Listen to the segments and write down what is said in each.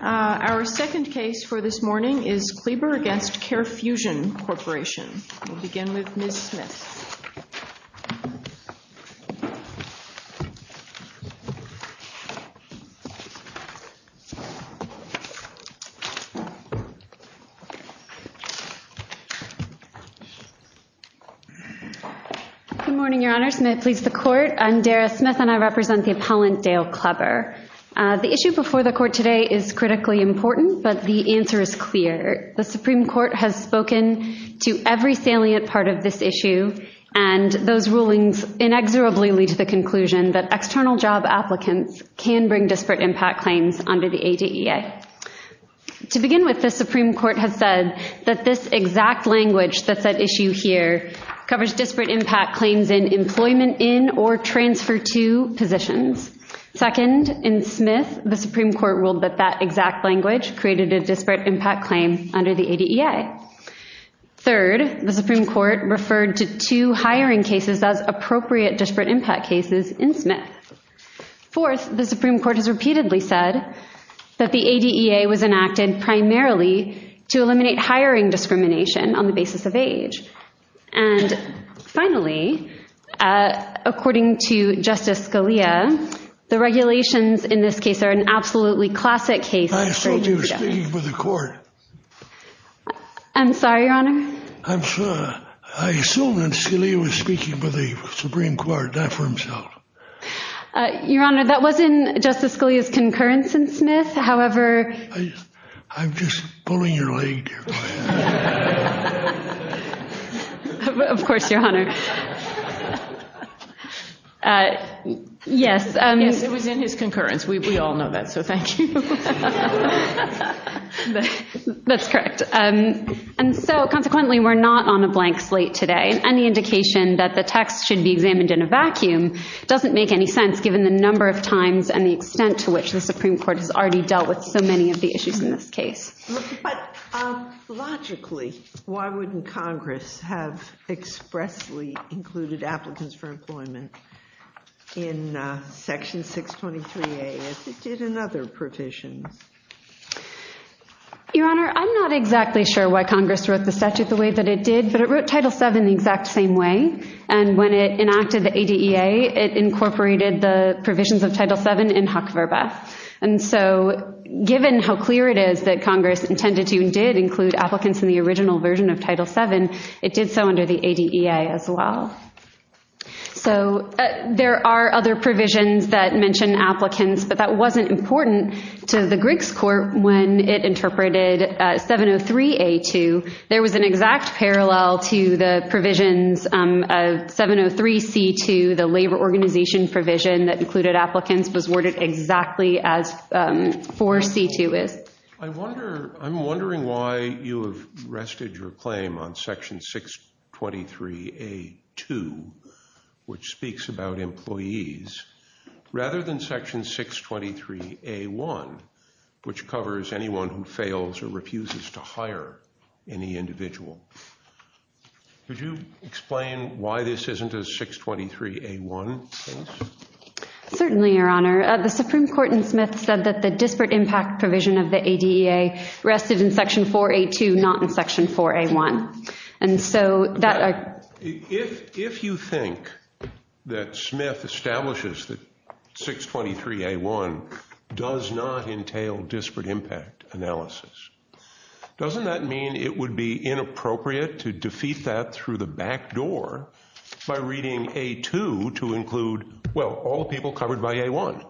Our second case for this morning is Kleber v. CareFusion Corporation. We'll begin with Ms. Smith. Good morning, Your Honors, and may it please the Court. I'm Dara Smith and I represent the appellant Dale Kleber. The issue before the Court today is critically important, but the answer is clear. The Supreme Court has spoken to every salient part of this issue, and those rulings inexorably lead to the conclusion that external job applicants can bring disparate impact claims under the ADA. To begin with, the Supreme Court has said that this exact language that's at issue here covers disparate impact claims in employment in or transfer to positions. Second, in Smith, the Supreme Court ruled that that exact language created a disparate impact claim under the ADEA. Third, the Supreme Court referred to two hiring cases as appropriate disparate impact cases in Smith. Fourth, the Supreme Court has repeatedly said that the ADEA was enacted primarily to eliminate hiring discrimination on the basis of age. And finally, according to Justice Scalia, the regulations in this case are an absolutely classic case. I thought you were speaking for the Court. I'm sorry, Your Honor. I assumed that Scalia was speaking for the Supreme Court, not for himself. Your Honor, that wasn't Justice Scalia's concurrence in Smith, however... I'm just pulling your leg. Of course, Your Honor. Yes, it was in his concurrence. We all know that, so thank you. That's correct. And so, consequently, we're not on a blank slate today. Any indication that the text should be examined in a vacuum doesn't make any sense, given the number of times and the extent to which the Supreme Court has already dealt with so many of the issues in this case. But logically, why wouldn't Congress have expressly included applicants for employment in Section 623A as it did in other provisions? Your Honor, I'm not exactly sure why Congress wrote the statute the way that it did, but it wrote Title VII the exact same way. And when it enacted the ADEA, it incorporated the provisions of Title VII in Huck-ver-beth. And so, given how clear it is that Congress intended to and did include applicants in the original version of Title VII, it did so under the ADEA as well. So, there are other provisions that mention applicants, but that wasn't important to the Griggs Court when it interpreted 703A-2. There was an exact parallel to the provisions of 703C-2, where the labor organization provision that included applicants was worded exactly as 4C-2 is. I'm wondering why you have rested your claim on Section 623A-2, which speaks about employees, rather than Section 623A-1, which covers anyone who fails or refuses to hire any individual. Could you explain why this isn't a 623A-1 case? Certainly, Your Honor. The Supreme Court in Smith said that the disparate impact provision of the ADEA rested in Section 4A-2, not in Section 4A-1. And so that… If you think that Smith establishes that 623A-1 does not entail disparate impact analysis, doesn't that mean it would be inappropriate to defeat that through the back door by reading A-2 to include, well, all people covered by A-1?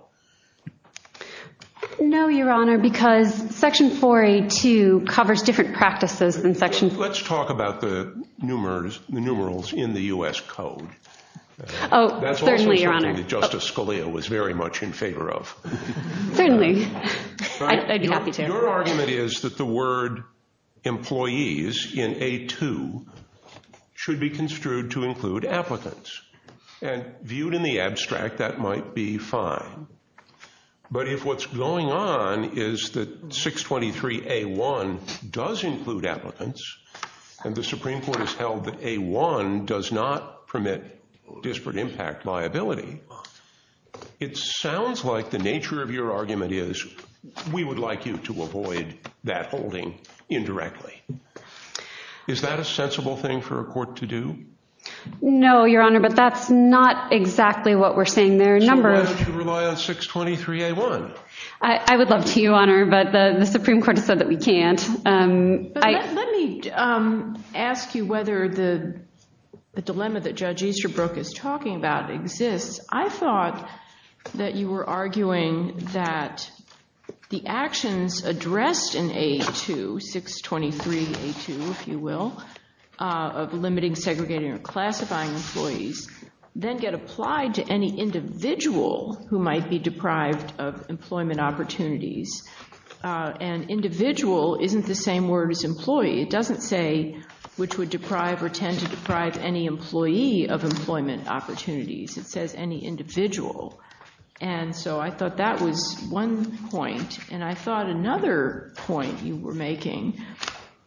No, Your Honor, because Section 4A-2 covers different practices than Section… Let's talk about the numerals in the U.S. Code. Oh, certainly, Your Honor. That's also something that Justice Scalia was very much in favor of. Certainly. I'd be happy to. Your argument is that the word employees in A-2 should be construed to include applicants. And viewed in the abstract, that might be fine. But if what's going on is that 623A-1 does include applicants, and the Supreme Court has held that A-1 does not permit disparate impact liability, it sounds like the nature of your argument is we would like you to avoid that holding indirectly. Is that a sensible thing for a court to do? No, Your Honor, but that's not exactly what we're saying. There are numbers… So why don't you rely on 623A-1? I would love to, Your Honor, but the Supreme Court has said that we can't. Let me ask you whether the dilemma that Judge Easterbrook is talking about exists. I thought that you were arguing that the actions addressed in A-2, 623A-2, if you will, of limiting, segregating, or classifying employees, then get applied to any individual who might be deprived of employment opportunities. And individual isn't the same word as employee. It doesn't say which would deprive or tend to deprive any employee of employment opportunities. It says any individual. And so I thought that was one point. And I thought another point you were making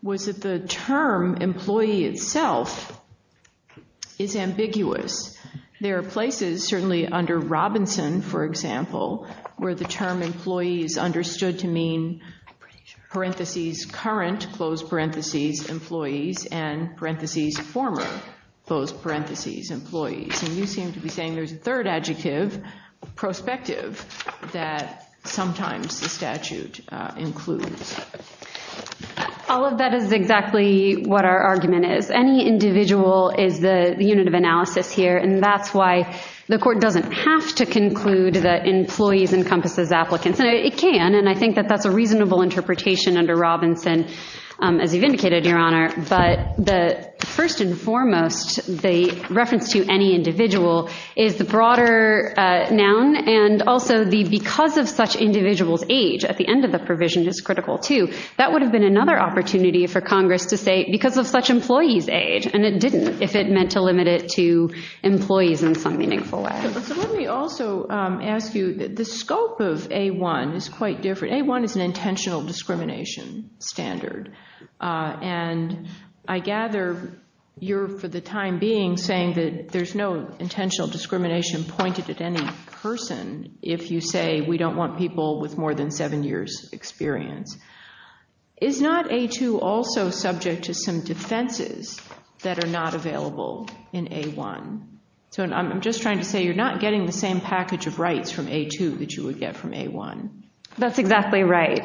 was that the term employee itself is ambiguous. There are places, certainly under Robinson, for example, where the term employee is understood to mean, parentheses, current, close parentheses, employees, and parentheses, former, close parentheses, employees. And you seem to be saying there's a third adjective, prospective, that sometimes the statute includes. All of that is exactly what our argument is. Any individual is the unit of analysis here, and that's why the court doesn't have to conclude that employees encompasses applicants. It can, and I think that that's a reasonable interpretation under Robinson, as you've indicated, Your Honor. But first and foremost, the reference to any individual is the broader noun, and also the because of such individuals' age at the end of the provision is critical, too. That would have been another opportunity for Congress to say because of such employees' age, and it didn't if it meant to limit it to employees in some meaningful way. Let me also ask you, the scope of A-1 is quite different. A-1 is an intentional discrimination standard. And I gather you're, for the time being, saying that there's no intentional discrimination pointed at any person if you say we don't want people with more than seven years' experience. Is not A-2 also subject to some defenses that are not available in A-1? So I'm just trying to say you're not getting the same package of rights from A-2 that you would get from A-1. That's exactly right.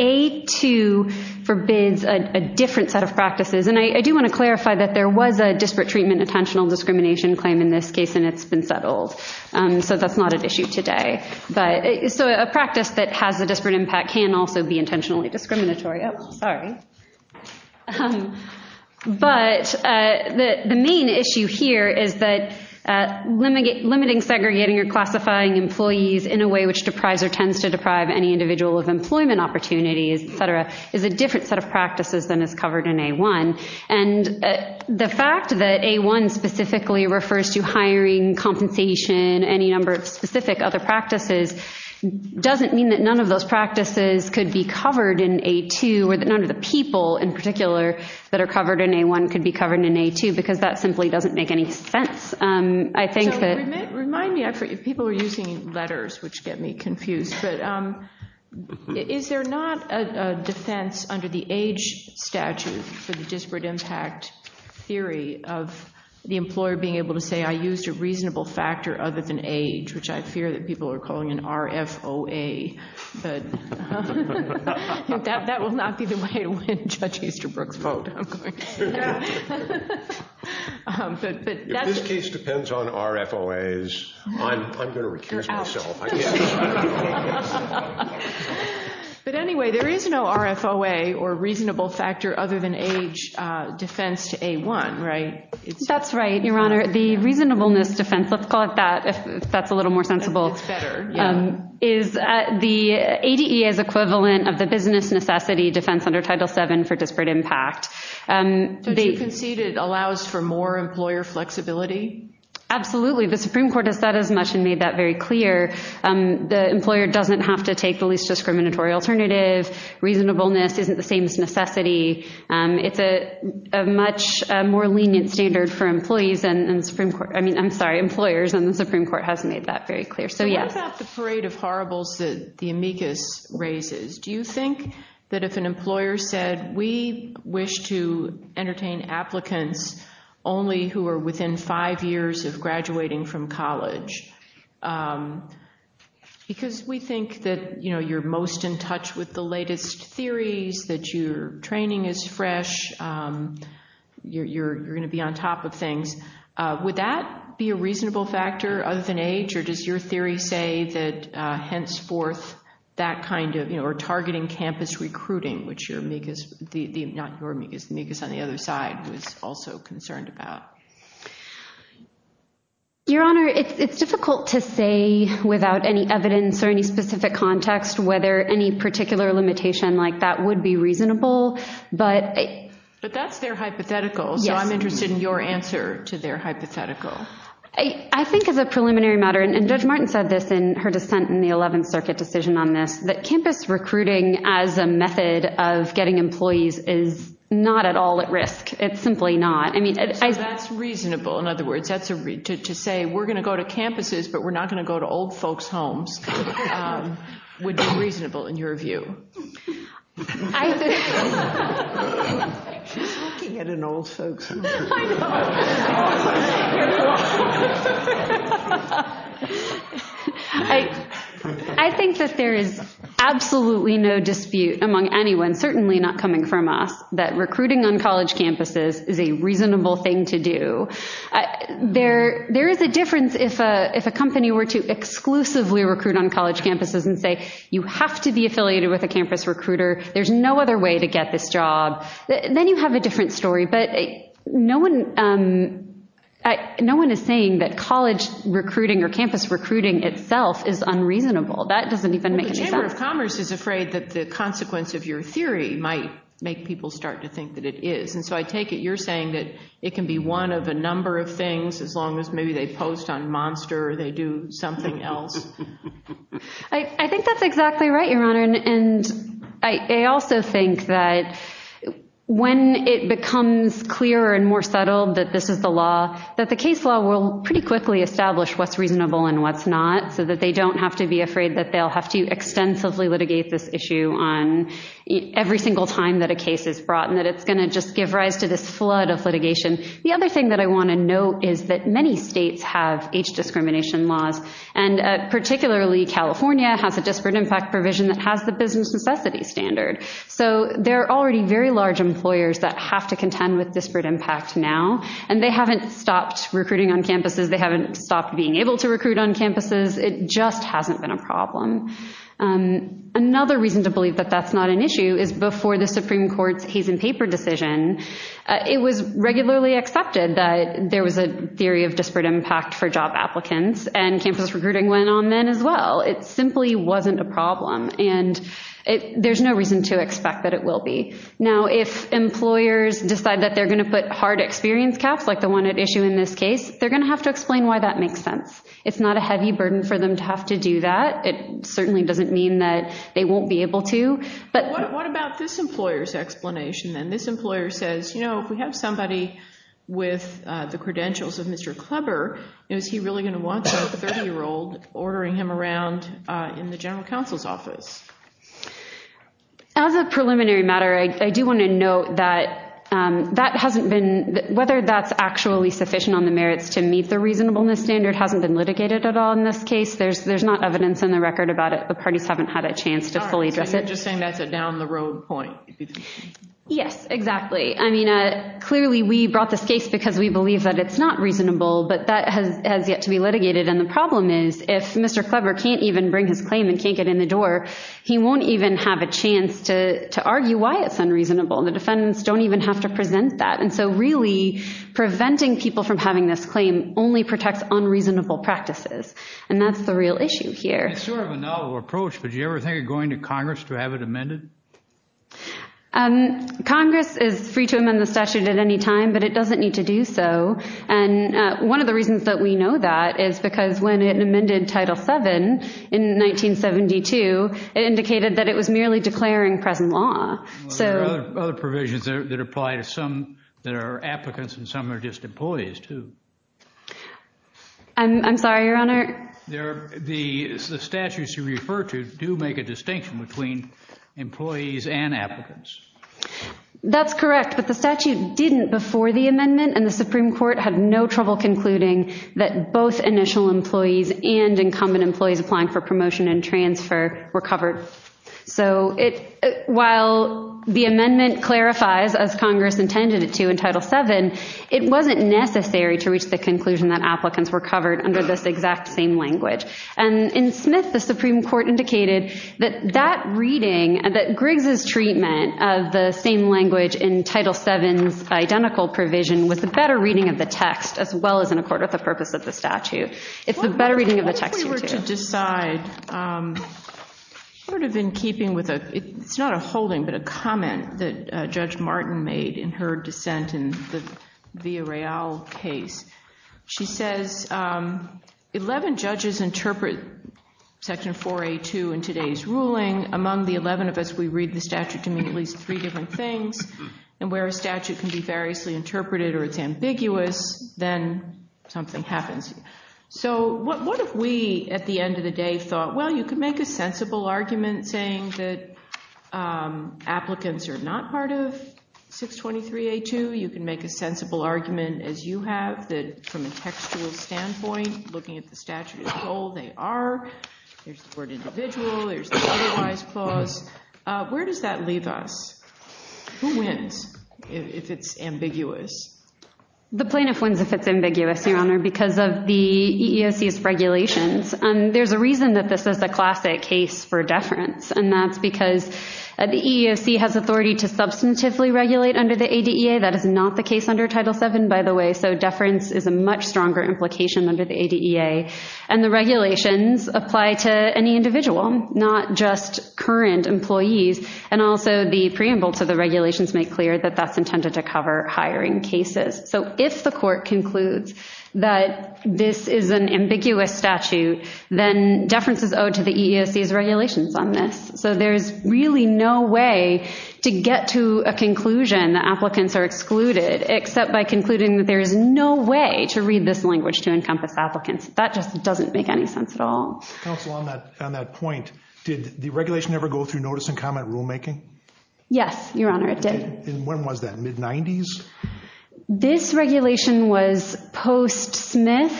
A-2 forbids a different set of practices, and I do want to clarify that there was a disparate treatment intentional discrimination claim in this case, and it's been settled. So that's not an issue today. So a practice that has a disparate impact can also be intentionally discriminatory. Oh, sorry. But the main issue here is that limiting, segregating, or classifying employees in a way which deprives or tends to deprive any individual of employment opportunities, et cetera, is a different set of practices than is covered in A-1. And the fact that A-1 specifically refers to hiring, compensation, any number of specific other practices doesn't mean that none of those practices could be covered in A-2 or that none of the people in particular that are covered in A-1 could be covered in A-2 because that simply doesn't make any sense. So remind me, people are using letters, which get me confused, but is there not a defense under the age statute for the disparate impact theory of the employer being able to say, I used a reasonable factor other than age, which I fear that people are calling an RFOA. But that will not be the way to win Judge Easterbrook's vote. If this case depends on RFOAs, I'm going to recuse myself. But anyway, there is no RFOA or reasonable factor other than age defense to A-1, right? That's right, Your Honor. The reasonableness defense, let's call it that if that's a little more sensible, is the ADEA's equivalent of the business necessity defense under Title VII for disparate impact. Don't you concede it allows for more employer flexibility? Absolutely. The Supreme Court has said as much and made that very clear. The employer doesn't have to take the least discriminatory alternative. Reasonableness isn't the same as necessity. It's a much more lenient standard for employers, and the Supreme Court has made that very clear. What about the parade of horribles that the amicus raises? Do you think that if an employer said, we wish to entertain applicants only who are within five years of graduating from college, because we think that you're most in touch with the latest theories, that your training is fresh, you're going to be on top of things, would that be a reasonable factor other than age? Or does your theory say that henceforth that kind of targeting campus recruiting, which the amicus on the other side was also concerned about? Your Honor, it's difficult to say without any evidence or any specific context whether any particular limitation like that would be reasonable. But that's their hypothetical, so I'm interested in your answer to their hypothetical. I think as a preliminary matter, and Judge Martin said this in her dissent in the 11th Circuit decision on this, that campus recruiting as a method of getting employees is not at all at risk. It's simply not. So that's reasonable. In other words, to say we're going to go to campuses, but we're not going to go to old folks' homes would be reasonable in your view. I think that there is absolutely no dispute among anyone, certainly not coming from us, that recruiting on college campuses is a reasonable thing to do. There is a difference if a company were to exclusively recruit on college campuses and say you have to be affiliated with a campus, you have to be affiliated with a university, there's no other way to get this job. Then you have a different story. But no one is saying that college recruiting or campus recruiting itself is unreasonable. That doesn't even make any sense. Well, the Chamber of Commerce is afraid that the consequence of your theory might make people start to think that it is. And so I take it you're saying that it can be one of a number of things as long as maybe they post on Monster or they do something else. I think that's exactly right, Your Honor. And I also think that when it becomes clearer and more subtle that this is the law, that the case law will pretty quickly establish what's reasonable and what's not so that they don't have to be afraid that they'll have to extensively litigate this issue every single time that a case is brought and that it's going to just give rise to this flood of litigation. The other thing that I want to note is that many states have age discrimination laws, and particularly California has a disparate impact provision that has the business necessity standard. So there are already very large employers that have to contend with disparate impact now, and they haven't stopped recruiting on campuses. They haven't stopped being able to recruit on campuses. It just hasn't been a problem. Another reason to believe that that's not an issue is before the Supreme Court's case in paper decision, it was regularly accepted that there was a theory of disparate impact for job applicants, and campus recruiting went on then as well. It simply wasn't a problem, and there's no reason to expect that it will be. Now, if employers decide that they're going to put hard experience caps, like the one at issue in this case, they're going to have to explain why that makes sense. It's not a heavy burden for them to have to do that. It certainly doesn't mean that they won't be able to. But what about this employer's explanation then? This employer says, you know, if we have somebody with the credentials of Mr. Kleber, is he really going to want a 30-year-old ordering him around in the general counsel's office? As a preliminary matter, I do want to note that that hasn't been— whether that's actually sufficient on the merits to meet the reasonableness standard hasn't been litigated at all in this case. There's not evidence in the record about it. The parties haven't had a chance to fully address it. So you're just saying that's a down-the-road point. Yes, exactly. I mean, clearly we brought this case because we believe that it's not reasonable, but that has yet to be litigated. And the problem is if Mr. Kleber can't even bring his claim and can't get in the door, he won't even have a chance to argue why it's unreasonable. The defendants don't even have to present that. And so really preventing people from having this claim only protects unreasonable practices. And that's the real issue here. It's sort of a novel approach, but do you ever think of going to Congress to have it amended? Congress is free to amend the statute at any time, but it doesn't need to do so. And one of the reasons that we know that is because when it amended Title VII in 1972, it indicated that it was merely declaring present law. Well, there are other provisions that apply to some that are applicants and some are just employees too. I'm sorry, Your Honor. The statutes you refer to do make a distinction between employees and applicants. That's correct, but the statute didn't before the amendment, and the Supreme Court had no trouble concluding that both initial employees and incumbent employees applying for promotion and transfer were covered. So while the amendment clarifies, as Congress intended it to in Title VII, it wasn't necessary to reach the conclusion that applicants were covered under this exact same language. And in Smith, the Supreme Court indicated that that reading, that Griggs' treatment of the same language in Title VII's identical provision was the better reading of the text as well as in accord with the purpose of the statute. It's the better reading of the text here too. What if we were to decide sort of in keeping with a, it's not a holding, but a comment that Judge Martin made in her dissent in the Villareal case. She says, 11 judges interpret Section 4A2 in today's ruling. Among the 11 of us, we read the statute to mean at least three different things, and where a statute can be variously interpreted or it's ambiguous, then something happens. So what if we, at the end of the day, thought, well, you can make a sensible argument saying that applicants are not part of 623A2. You can make a sensible argument, as you have, that from a textual standpoint, looking at the statute as a whole, they are. There's the word individual. There's the standardized clause. Where does that leave us? Who wins if it's ambiguous? The plaintiff wins if it's ambiguous, Your Honor, because of the EEOC's regulations. There's a reason that this is a classic case for deference, and that's because the EEOC has authority to substantively regulate under the ADEA. That is not the case under Title VII, by the way, so deference is a much stronger implication under the ADEA, and the regulations apply to any individual, not just current employees, and also the preamble to the regulations make clear that that's intended to cover hiring cases. So if the court concludes that this is an ambiguous statute, then deference is owed to the EEOC's regulations on this. So there's really no way to get to a conclusion that applicants are excluded, except by concluding that there is no way to read this language to encompass applicants. That just doesn't make any sense at all. Counsel, on that point, did the regulation ever go through notice and comment rulemaking? Yes, Your Honor, it did. And when was that, mid-'90s? This regulation was post-Smith,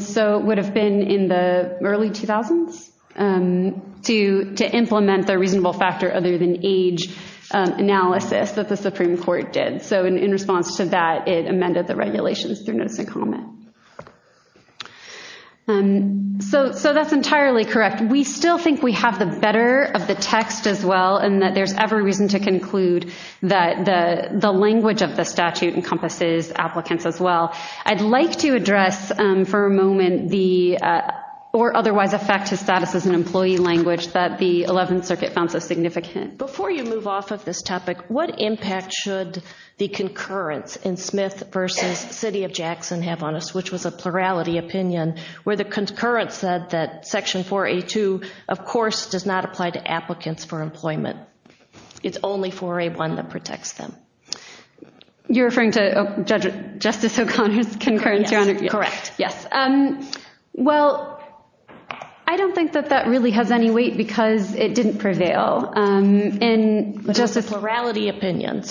so it would have been in the early 2000s to implement the reasonable factor other than age analysis that the Supreme Court did. So in response to that, it amended the regulations through notice and comment. So that's entirely correct. We still think we have the better of the text as well and that there's every reason to conclude that the language of the statute encompasses applicants as well. I'd like to address for a moment the or otherwise affect his status as an employee language that the 11th Circuit found so significant. Before you move off of this topic, what impact should the concurrence in Smith v. City of Jackson have on us, which was a plurality opinion, where the concurrence said that Section 4A.2, of course, does not apply to applicants for employment. It's only 4A.1 that protects them. You're referring to Justice O'Connor's concurrence, Your Honor? Correct, yes. Well, I don't think that that really has any weight because it didn't prevail. But that's a plurality opinion.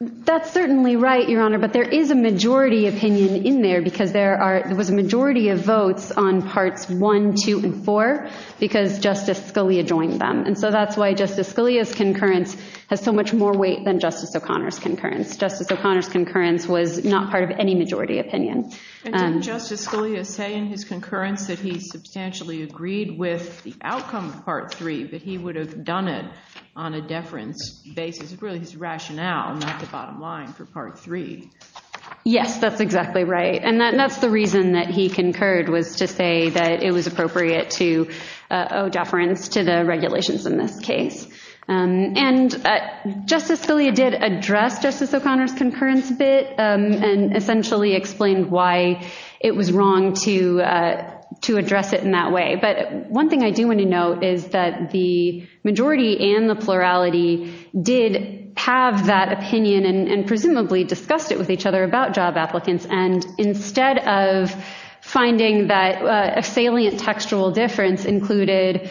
That's certainly right, Your Honor, but there is a majority opinion in there because there was a majority of votes on Parts 1, 2, and 4 because Justice Scalia joined them. And so that's why Justice Scalia's concurrence has so much more weight than Justice O'Connor's concurrence. Justice O'Connor's concurrence was not part of any majority opinion. And didn't Justice Scalia say in his concurrence that he substantially agreed with the outcome of Part 3, that he would have done it on a deference basis? It's really his rationale, not the bottom line for Part 3. Yes, that's exactly right. And that's the reason that he concurred was to say that it was appropriate to owe deference to the regulations in this case. And Justice Scalia did address Justice O'Connor's concurrence a bit and essentially explained why it was wrong to address it in that way. But one thing I do want to note is that the majority and the plurality did have that opinion and presumably discussed it with each other about job applicants. And instead of finding that a salient textual difference included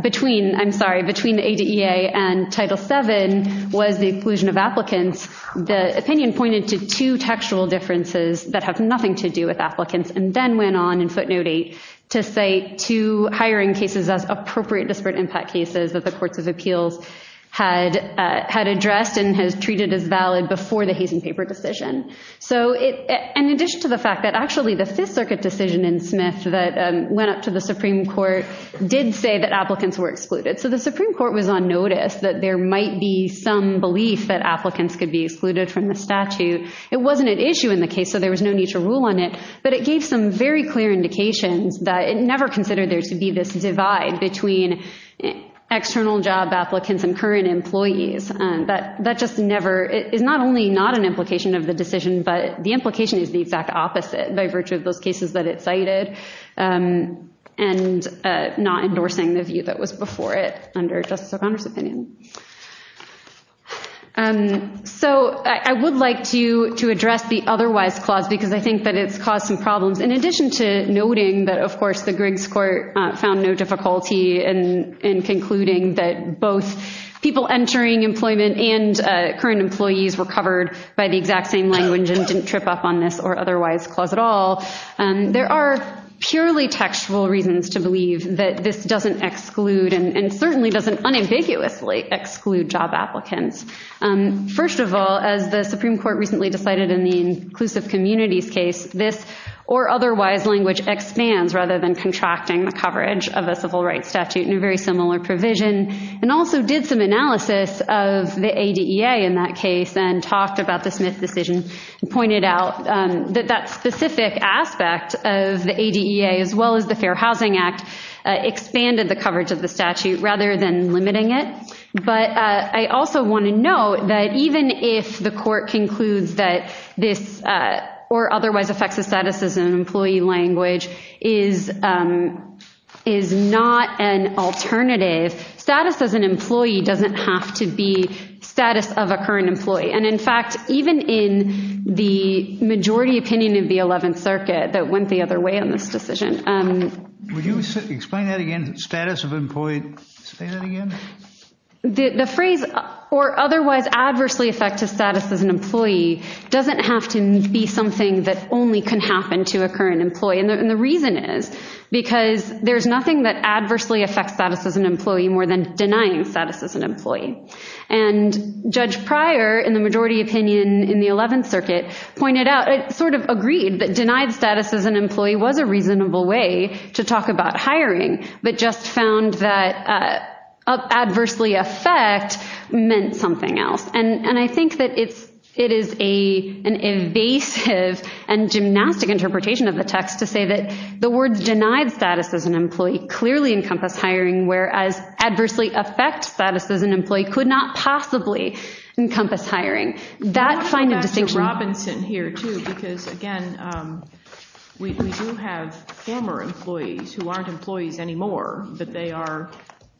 between the ADA and Title VII was the inclusion of applicants, the opinion pointed to two textual differences that have nothing to do with applicants and then went on in footnote 8 to cite two hiring cases as appropriate disparate impact cases that the Courts of Appeals had addressed and has treated as valid before the hazing paper decision. So in addition to the fact that actually the Fifth Circuit decision in Smith that went up to the Supreme Court did say that applicants were excluded. So the Supreme Court was on notice that there might be some belief that applicants could be excluded from the statute. It wasn't an issue in the case, so there was no need to rule on it. But it gave some very clear indications that it never considered there to be this divide between external job applicants and current employees that just never is not only not an implication of the decision, but the implication is the exact opposite by virtue of those cases that it cited and not endorsing the view that was before it under Justice O'Connor's opinion. So I would like to address the otherwise clause because I think that it's caused some problems. In addition to noting that, of course, the Griggs Court found no difficulty in concluding that both people entering employment and current employees were covered by the exact same language and didn't trip up on this or otherwise clause at all. There are purely textual reasons to believe that this doesn't exclude and certainly doesn't unambiguously exclude job applicants. First of all, as the Supreme Court recently decided in the inclusive communities case, this or otherwise language expands rather than contracting the coverage of a civil rights statute in a very similar provision and also did some analysis of the ADEA in that case and talked about the Smith decision and pointed out that that specific aspect of the ADEA as well as the Fair Housing Act expanded the coverage of the statute rather than limiting it. But I also want to note that even if the court concludes that this or otherwise affects the status as an employee language is not an alternative, status as an employee doesn't have to be status of a current employee. And in fact, even in the majority opinion of the 11th Circuit that went the other way on this decision. Would you explain that again, status of employee? Say that again. The phrase or otherwise adversely affect the status as an employee doesn't have to be something that only can happen to a current employee. And the reason is because there's nothing that adversely affects status as an employee more than denying status as an employee. And Judge Pryor in the majority opinion in the 11th Circuit pointed out, sort of agreed that denied status as an employee was a reasonable way to talk about hiring but just found that adversely affect meant something else. And I think that it is an evasive and gymnastic interpretation of the text to say that the words denied status as an employee clearly encompass hiring whereas adversely affect status as an employee could not possibly encompass hiring. That finding distinction... I want to go back to Robinson here too because again, we do have former employees who aren't employees anymore but they are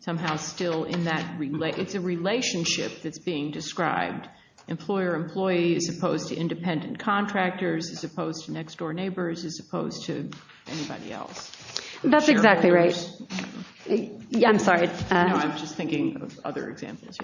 somehow still in that, it's a relationship that's being described. Employer-employee as opposed to independent contractors as opposed to next door neighbors as opposed to anybody else. That's exactly right. I'm sorry. No, I'm just thinking of other examples.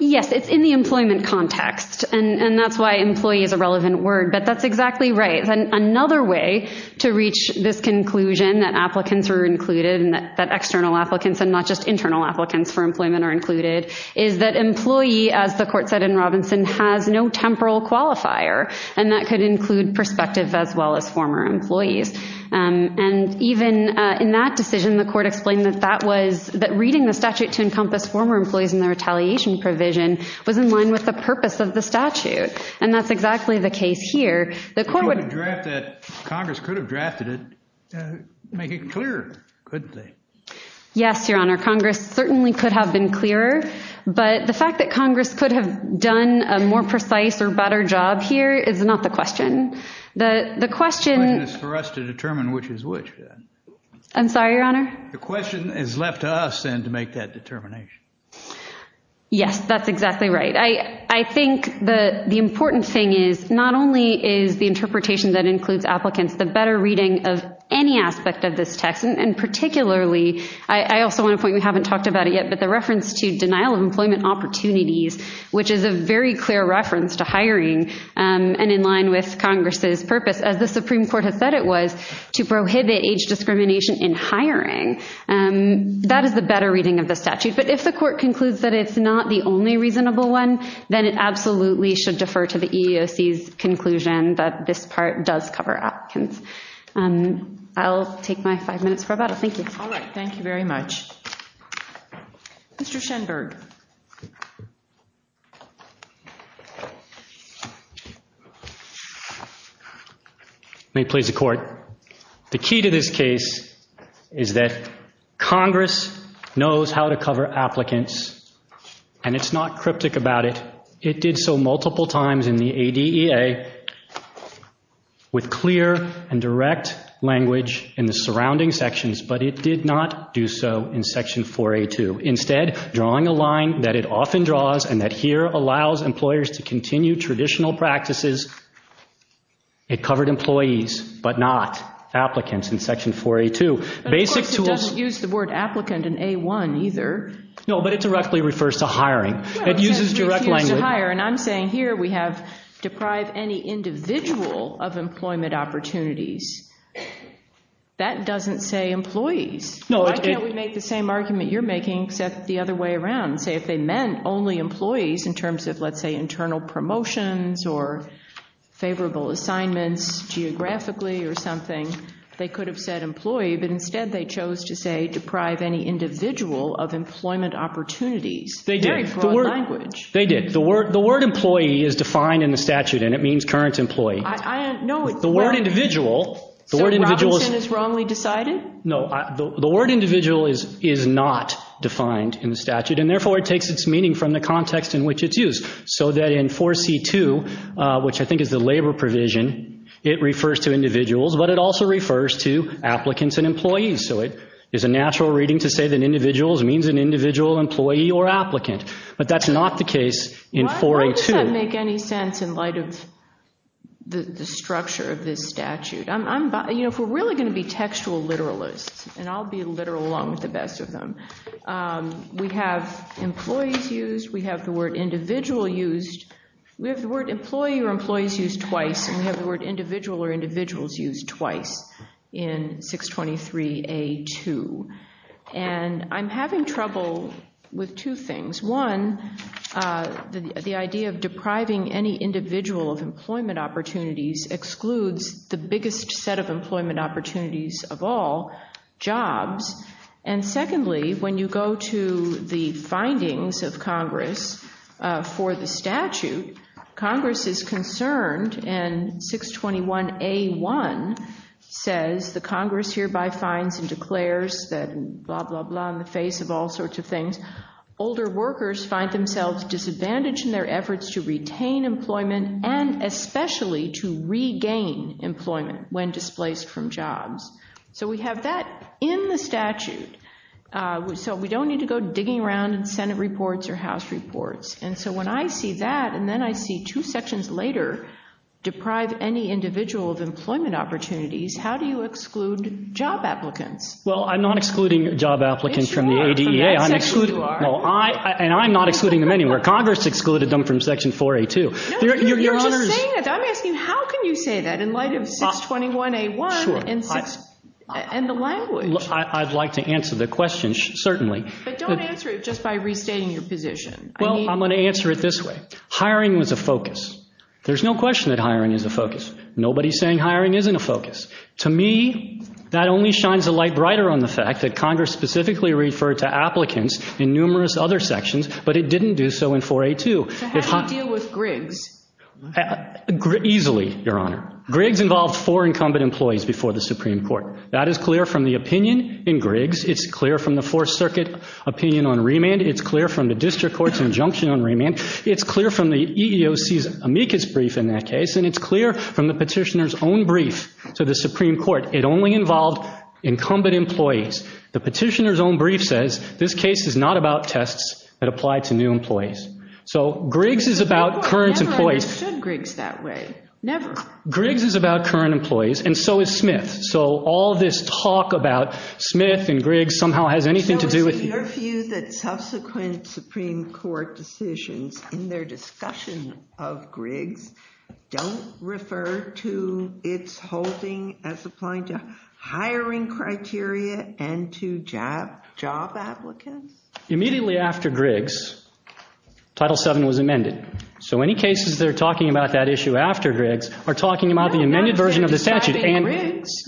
Yes, it's in the employment context. And that's why employee is a relevant word. But that's exactly right. Another way to reach this conclusion that applicants are included and that external applicants and not just internal applicants for employment are included is that employee, as the court said in Robinson, has no temporal qualifier. And that could include prospective as well as former employees. And even in that decision, the court explained that that was, that reading the statute to encompass former employees in the retaliation provision was in line with the purpose of the statute. And that's exactly the case here. The court would... Congress could have drafted it, make it clearer, couldn't they? Yes, Your Honor. Congress certainly could have been clearer. But the fact that Congress could have done a more precise or better job here is not the question. The question... I'm sorry, Your Honor. The question is left to us, then, to make that determination. Yes, that's exactly right. I think the important thing is not only is the interpretation that includes applicants the better reading of any aspect of this text, and particularly, I also want to point, we haven't talked about it yet, but the reference to denial of employment opportunities, which is a very clear reference to hiring and in line with Congress's purpose. As the Supreme Court has said it was to prohibit age discrimination in hiring. That is the better reading of the statute. But if the court concludes that it's not the only reasonable one, then it absolutely should defer to the EEOC's conclusion that this part does cover applicants. I'll take my five minutes for rebuttal. Thank you. All right. Thank you very much. Mr. Schenberg. May it please the Court. The key to this case is that Congress knows how to cover applicants, and it's not cryptic about it. It did so multiple times in the ADEA with clear and direct language in the surrounding sections, but it did not do so in Section 4A2. Instead, drawing a line that it often draws and that here allows employers to continue traditional practices, it covered employees but not applicants in Section 4A2. Of course, it doesn't use the word applicant in A1 either. No, but it directly refers to hiring. It uses direct language. And I'm saying here we have deprive any individual of employment opportunities. That doesn't say employees. Why can't we make the same argument you're making except the other way around? Say if they meant only employees in terms of, let's say, internal promotions or favorable assignments geographically or something, they could have said employee, but instead they chose to say deprive any individual of employment opportunities. They did. Very broad language. They did. The word employee is defined in the statute, and it means current employee. The word individual. So Robinson is wrongly decided? No. The word individual is not defined in the statute, and therefore it takes its meaning from the context in which it's used. So that in 4C2, which I think is the labor provision, it refers to individuals, but it also refers to applicants and employees. So it is a natural reading to say that individuals means an individual employee or applicant, but that's not the case in 4A2. It doesn't make any sense in light of the structure of this statute. If we're really going to be textual literalists, and I'll be literal along with the best of them, we have employees used, we have the word individual used, we have the word employee or employees used twice, and we have the word individual or individuals used twice in 623A2. And I'm having trouble with two things. One, the idea of depriving any individual of employment opportunities excludes the biggest set of employment opportunities of all, jobs. And secondly, when you go to the findings of Congress for the statute, Congress is concerned and 621A1 says the Congress hereby finds and declares that blah, blah, blah in the face of all sorts of things. Older workers find themselves disadvantaged in their efforts to retain employment and especially to regain employment when displaced from jobs. So we have that in the statute. So we don't need to go digging around in Senate reports or House reports. And so when I see that, and then I see two sections later, deprive any individual of employment opportunities, how do you exclude job applicants? Well, I'm not excluding job applicants from the ADA. And I'm not excluding them anywhere. Congress excluded them from Section 4A2. No, you're just saying that. I'm asking how can you say that in light of 621A1 and the language? I'd like to answer the question, certainly. But don't answer it just by restating your position. Well, I'm going to answer it this way. Hiring was a focus. There's no question that hiring is a focus. Nobody is saying hiring isn't a focus. To me, that only shines a light brighter on the fact that Congress specifically referred to applicants in numerous other sections, but it didn't do so in 4A2. So how do you deal with Griggs? Easily, Your Honor. Griggs involved four incumbent employees before the Supreme Court. That is clear from the opinion in Griggs. It's clear from the Fourth Circuit opinion on remand. It's clear from the district court's injunction on remand. It's clear from the EEOC's amicus brief in that case. And it's clear from the petitioner's own brief to the Supreme Court. It only involved incumbent employees. The petitioner's own brief says this case is not about tests that apply to new employees. So Griggs is about current employees. I never understood Griggs that way. Never. Griggs is about current employees, and so is Smith. So all this talk about Smith and Griggs somehow has anything to do with you. Your view that subsequent Supreme Court decisions in their discussion of Griggs don't refer to its holding as applying to hiring criteria and to job applicants? Immediately after Griggs, Title VII was amended. So any cases that are talking about that issue after Griggs are talking about the amended version of the statute.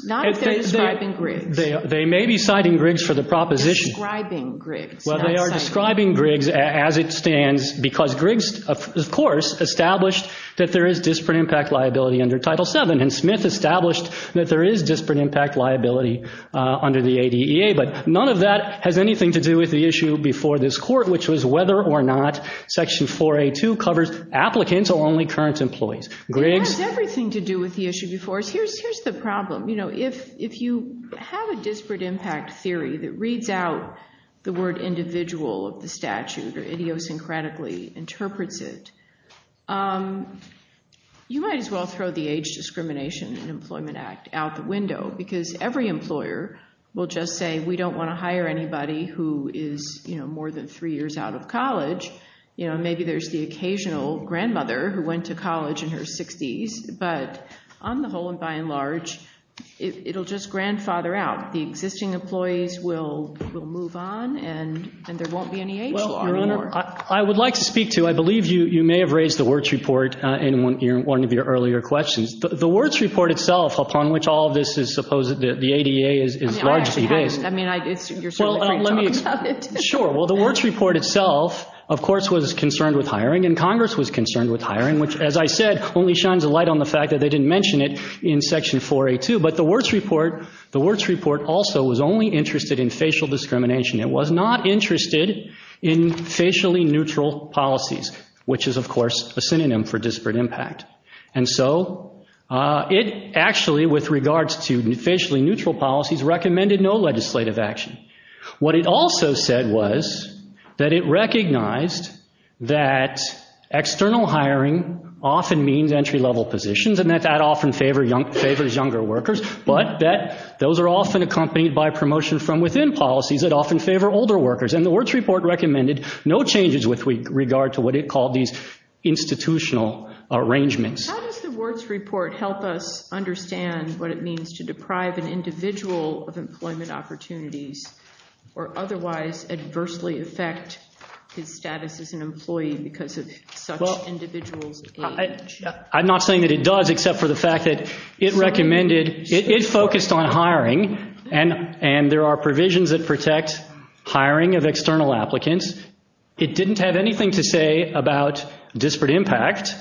Not if they're describing Griggs. They may be citing Griggs for the proposition. Well, they are describing Griggs as it stands because Griggs, of course, established that there is disparate impact liability under Title VII, and Smith established that there is disparate impact liability under the ADEA. But none of that has anything to do with the issue before this court, which was whether or not Section 4A.2 covers applicants or only current employees. It has everything to do with the issue before. Here's the problem. If you have a disparate impact theory that reads out the word individual of the statute or idiosyncratically interprets it, you might as well throw the Age Discrimination and Employment Act out the window because every employer will just say, we don't want to hire anybody who is more than three years out of college. Maybe there's the occasional grandmother who went to college in her 60s, but on the whole and by and large, it will just grandfather out. The existing employees will move on and there won't be any age law anymore. Well, Your Honor, I would like to speak to, I believe you may have raised the Wirtz Report in one of your earlier questions. The Wirtz Report itself, upon which all of this is supposed that the ADEA is largely based. I actually haven't. I mean, you're certainly free to talk about it. Sure. Well, the Wirtz Report itself, of course, was concerned with hiring, and Congress was concerned with hiring, which, as I said, only shines a light on the fact that they didn't mention it in Section 482. But the Wirtz Report also was only interested in facial discrimination. It was not interested in facially neutral policies, which is, of course, a synonym for disparate impact. And so it actually, with regards to facially neutral policies, recommended no legislative action. What it also said was that it recognized that external hiring often means entry-level positions and that that often favors younger workers, but that those are often accompanied by promotion from within policies that often favor older workers. And the Wirtz Report recommended no changes with regard to what it called these institutional arrangements. How does the Wirtz Report help us understand what it means to deprive an individual of employment opportunities or otherwise adversely affect his status as an employee because of such individual's age? I'm not saying that it does, except for the fact that it recommended—it focused on hiring, and there are provisions that protect hiring of external applicants. It didn't have anything to say about disparate impact,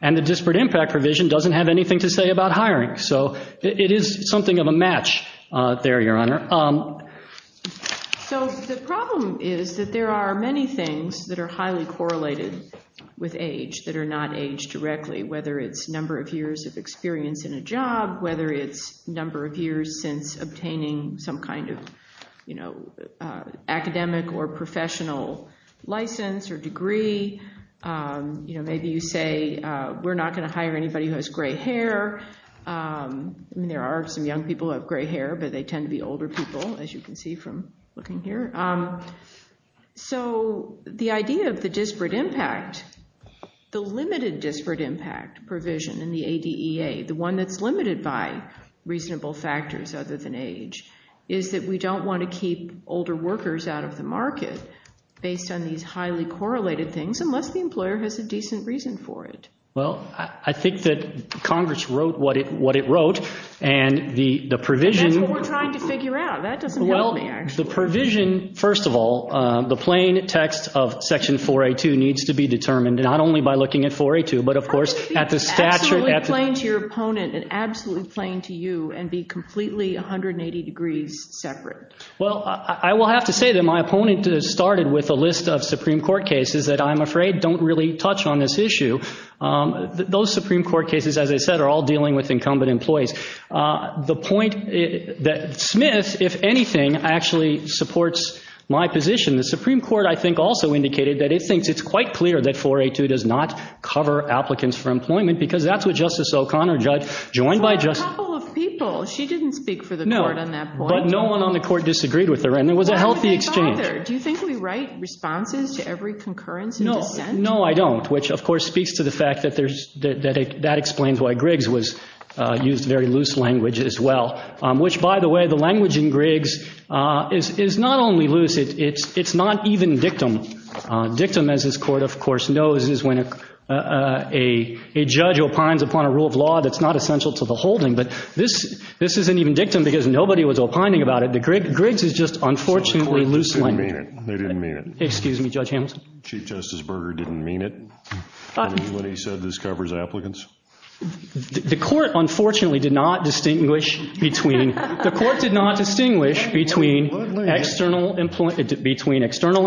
and the disparate impact provision doesn't have anything to say about hiring. So it is something of a match there, Your Honor. So the problem is that there are many things that are highly correlated with age that are not aged directly, whether it's number of years of experience in a job, whether it's number of years since obtaining some kind of academic or professional license or degree. Maybe you say we're not going to hire anybody who has gray hair. I mean, there are some young people who have gray hair, but they tend to be older people, as you can see from looking here. So the idea of the disparate impact, the limited disparate impact provision in the ADEA, the one that's limited by reasonable factors other than age, is that we don't want to keep older workers out of the market based on these highly correlated things unless the employer has a decent reason for it. Well, I think that Congress wrote what it wrote, and the provision— That's what we're trying to figure out. That doesn't help me, actually. Well, the provision, first of all, the plain text of Section 482 needs to be determined, not only by looking at 482, but of course at the statute— How can it be absolutely plain to your opponent and absolutely plain to you and be completely 180 degrees separate? Well, I will have to say that my opponent started with a list of Supreme Court cases that I'm afraid don't really touch on this issue. Those Supreme Court cases, as I said, are all dealing with incumbent employees. The point that Smith, if anything, actually supports my position. The Supreme Court, I think, also indicated that it thinks it's quite clear that 482 does not cover applicants for employment because that's what Justice O'Connor, a judge joined by Justice— A couple of people. She didn't speak for the court on that point. But no one on the court disagreed with her, and it was a healthy exchange. Why would they bother? Do you think we write responses to every concurrence in dissent? No. No, I don't, which, of course, speaks to the fact that that explains why Griggs used very loose language as well, which, by the way, the language in Griggs is not only loose. It's not even dictum. Dictum, as this Court, of course, knows, is when a judge opines upon a rule of law that's not essential to the holding, but this isn't even dictum because nobody was opining about it. Griggs is just, unfortunately, loose language. So the court didn't mean it. They didn't mean it. Excuse me, Judge Hamilton. Chief Justice Berger didn't mean it when he said this covers applicants? The court, unfortunately, did not distinguish between— The court did not distinguish between external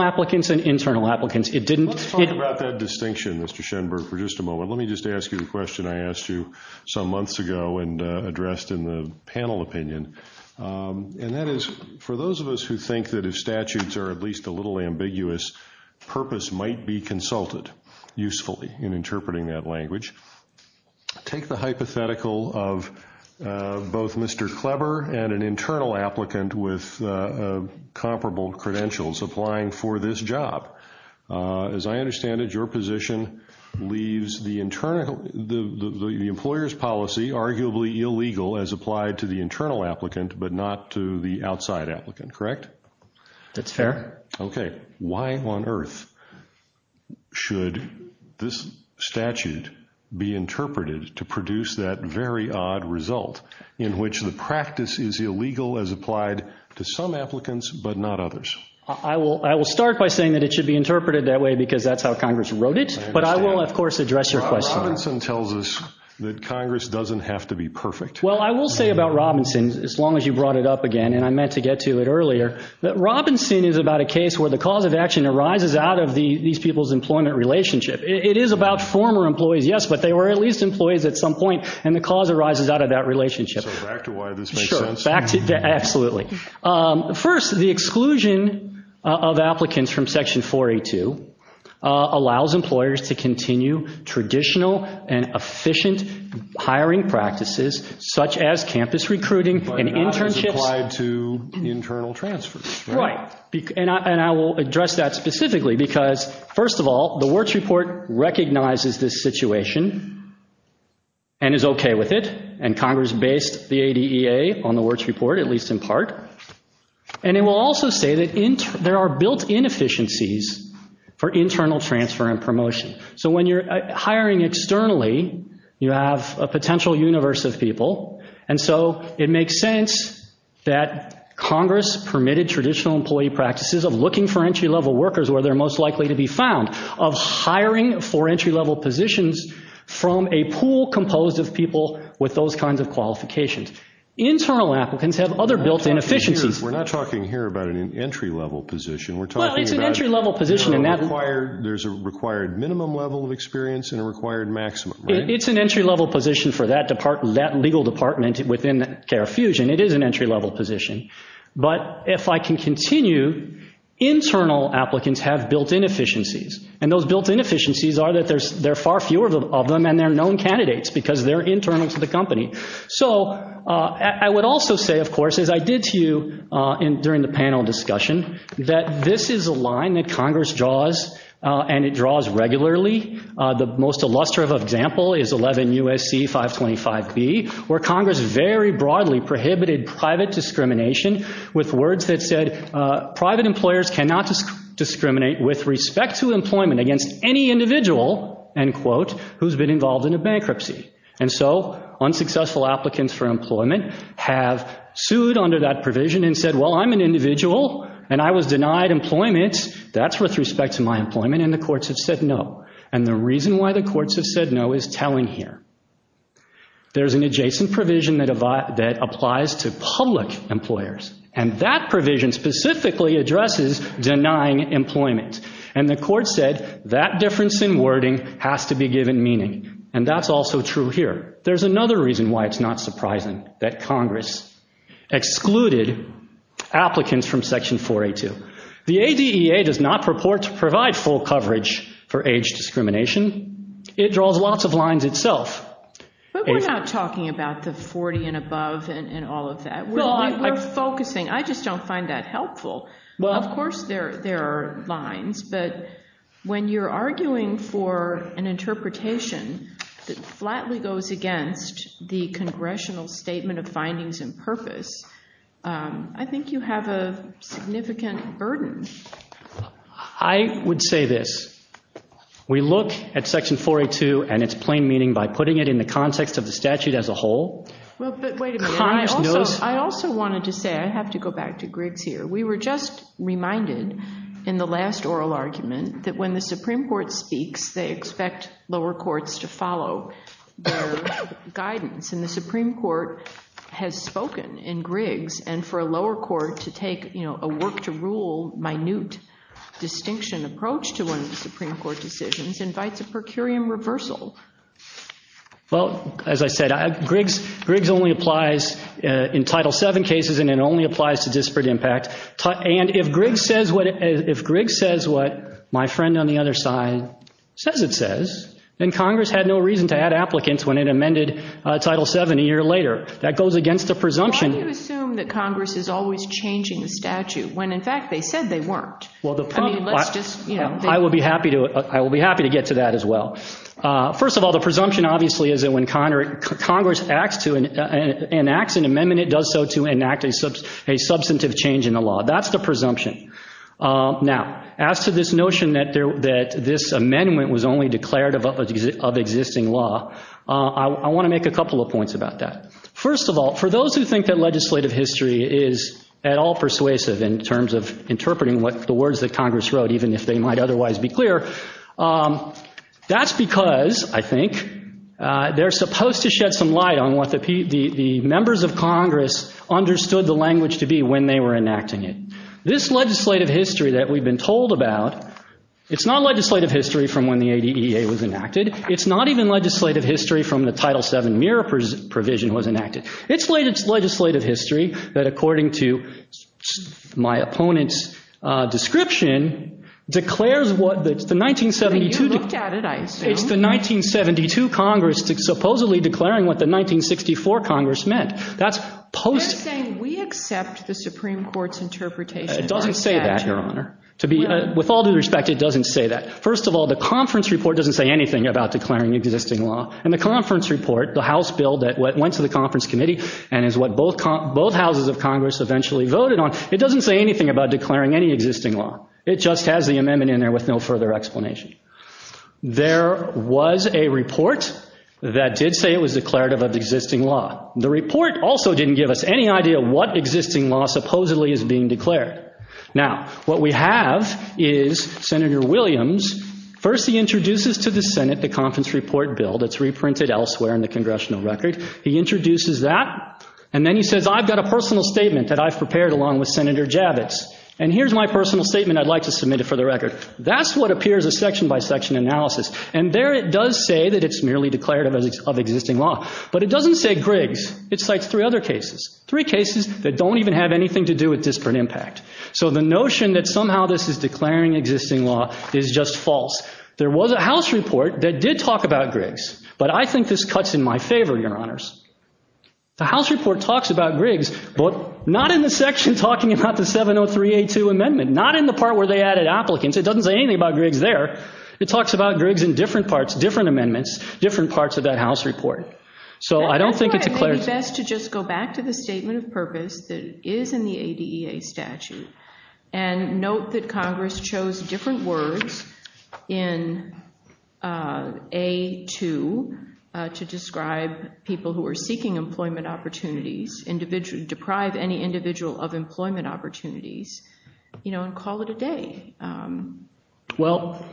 applicants and internal applicants. It didn't— Let's talk about that distinction, Mr. Schenberg, for just a moment. Let me just ask you the question I asked you some months ago and addressed in the panel opinion, and that is, for those of us who think that if statutes are at least a little ambiguous, purpose might be consulted usefully in interpreting that language. Take the hypothetical of both Mr. Kleber and an internal applicant with comparable credentials applying for this job. As I understand it, your position leaves the employer's policy arguably illegal as applied to the internal applicant, but not to the outside applicant, correct? That's fair. Okay. Why on earth should this statute be interpreted to produce that very odd result in which the practice is illegal as applied to some applicants, but not others? I will start by saying that it should be interpreted that way because that's how Congress wrote it, but I will, of course, address your question. Robinson tells us that Congress doesn't have to be perfect. Well, I will say about Robinson, as long as you brought it up again, and I meant to get to it earlier, that Robinson is about a case where the cause of action arises out of these people's employment relationship. It is about former employees, yes, but they were at least employees at some point, and the cause arises out of that relationship. So back to why this makes sense. Sure, back to—absolutely. First, the exclusion of applicants from Section 482 allows employers to continue traditional and efficient hiring practices such as campus recruiting and internships— But not as applied to internal transfers. Right, and I will address that specifically because, first of all, the Wirtz Report recognizes this situation and is okay with it, and Congress based the ADEA on the Wirtz Report, at least in part, and it will also say that there are built-in efficiencies for internal transfer and promotion. So when you're hiring externally, you have a potential universe of people, and so it makes sense that Congress permitted traditional employee practices of looking for entry-level workers where they're most likely to be found, of hiring for entry-level positions from a pool composed of people with those kinds of qualifications. Internal applicants have other built-in efficiencies. We're not talking here about an entry-level position. We're talking about— Well, it's an entry-level position, and that— There's a required minimum level of experience and a required maximum, right? It's an entry-level position for that legal department within CARE Fusion. It is an entry-level position. But if I can continue, internal applicants have built-in efficiencies, and those built-in efficiencies are that there are far fewer of them, and they're known candidates because they're internal to the company. So I would also say, of course, as I did to you during the panel discussion, that this is a line that Congress draws, and it draws regularly. The most illustrative example is 11 U.S.C. 525B, where Congress very broadly prohibited private discrimination with words that said, private employers cannot discriminate with respect to employment against any individual, end quote, who's been involved in a bankruptcy. And so unsuccessful applicants for employment have sued under that provision and said, well, I'm an individual, and I was denied employment. That's with respect to my employment, and the courts have said no. And the reason why the courts have said no is telling here. There's an adjacent provision that applies to public employers, and that provision specifically addresses denying employment. And the courts said that difference in wording has to be given meaning. And that's also true here. There's another reason why it's not surprising that Congress excluded applicants from Section 482. The ADEA does not purport to provide full coverage for age discrimination. It draws lots of lines itself. But we're not talking about the 40 and above and all of that. We're focusing. I just don't find that helpful. Of course there are lines, but when you're arguing for an interpretation that flatly goes against the congressional statement of findings and purpose, I think you have a significant burden. I would say this. We look at Section 482 and its plain meaning by putting it in the context of the statute as a whole. But wait a minute. I also wanted to say, I have to go back to Griggs here. We were just reminded in the last oral argument that when the Supreme Court speaks, they expect lower courts to follow their guidance. And the Supreme Court has spoken in Griggs, and for a lower court to take a work-to-rule, minute distinction approach to one of the Supreme Court decisions invites a per curiam reversal. Well, as I said, Griggs only applies in Title VII cases, and it only applies to disparate impact. And if Griggs says what my friend on the other side says it says, then Congress had no reason to add applicants when it amended Title VII a year later. That goes against the presumption. Why do you assume that Congress is always changing the statute when, in fact, they said they weren't? I will be happy to get to that as well. First of all, the presumption, obviously, is that when Congress enacts an amendment, it does so to enact a substantive change in the law. That's the presumption. Now, as to this notion that this amendment was only declarative of existing law, I want to make a couple of points about that. First of all, for those who think that legislative history is at all persuasive in terms of interpreting the words that Congress wrote, even if they might otherwise be clear, that's because, I think, they're supposed to shed some light on what the members of Congress understood the language to be when they were enacting it. This legislative history that we've been told about, it's not legislative history from when the ADEA was enacted. It's not even legislative history from when the Title VII mirror provision was enacted. It's legislative history that, according to my opponent's description, declares what the 1972- You looked at it, I assume. It's the 1972 Congress supposedly declaring what the 1964 Congress meant. That's post- They're saying we accept the Supreme Court's interpretation of our statute. It doesn't say that, Your Honor. With all due respect, it doesn't say that. First of all, the conference report doesn't say anything about declaring existing law, and the conference report, the House bill that went to the conference committee and is what both houses of Congress eventually voted on, it doesn't say anything about declaring any existing law. It just has the amendment in there with no further explanation. There was a report that did say it was declarative of existing law. The report also didn't give us any idea what existing law supposedly is being declared. Now, what we have is Senator Williams, first he introduces to the Senate the conference report bill that's reprinted elsewhere in the congressional record. He introduces that, and then he says, I've got a personal statement that I've prepared along with Senator Javits, and here's my personal statement I'd like to submit it for the record. That's what appears a section-by-section analysis, and there it does say that it's merely declarative of existing law. But it doesn't say Griggs. It cites three other cases, three cases that don't even have anything to do with disparate impact. So the notion that somehow this is declaring existing law is just false. There was a House report that did talk about Griggs, but I think this cuts in my favor, Your Honors. The House report talks about Griggs, but not in the section talking about the 70382 amendment, not in the part where they added applicants. It doesn't say anything about Griggs there. It talks about Griggs in different parts, different amendments, different parts of that House report. So I don't think it's a clarity. I think it would be best to just go back to the statement of purpose that is in the ADEA statute and note that Congress chose different words in A2 to describe people who are seeking employment opportunities, deprived any individual of employment opportunities, you know, and call it a day. Well,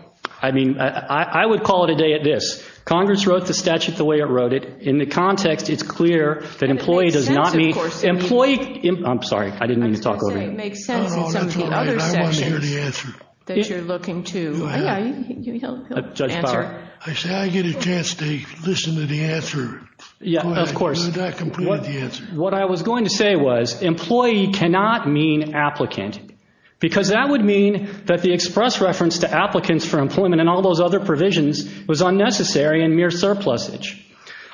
I mean, I would call it a day at this. Congress wrote the statute the way it wrote it. In the context, it's clear that employee does not mean employee. I'm sorry. I didn't mean to talk over you. I was going to say it makes sense in some of the other sections that you're looking to answer. I said I get a chance to listen to the answer. Of course. You have not completed the answer. What I was going to say was employee cannot mean applicant because that would mean that the express reference to applicants for employment and all those other provisions was unnecessary and mere surplusage.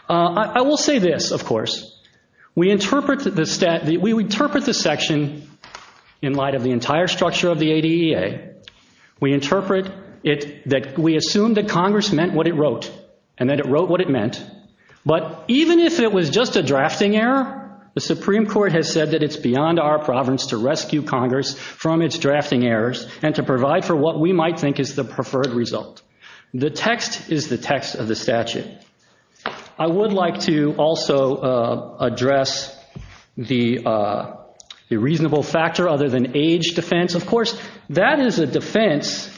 I will say this, of course. We interpret the section in light of the entire structure of the ADEA. We interpret it that we assume that Congress meant what it wrote and that it wrote what it meant. But even if it was just a drafting error, the Supreme Court has said that it's beyond our province to rescue Congress from its drafting errors and to provide for what we might think is the preferred result. The text is the text of the statute. I would like to also address the reasonable factor other than age defense. Of course, that is a defense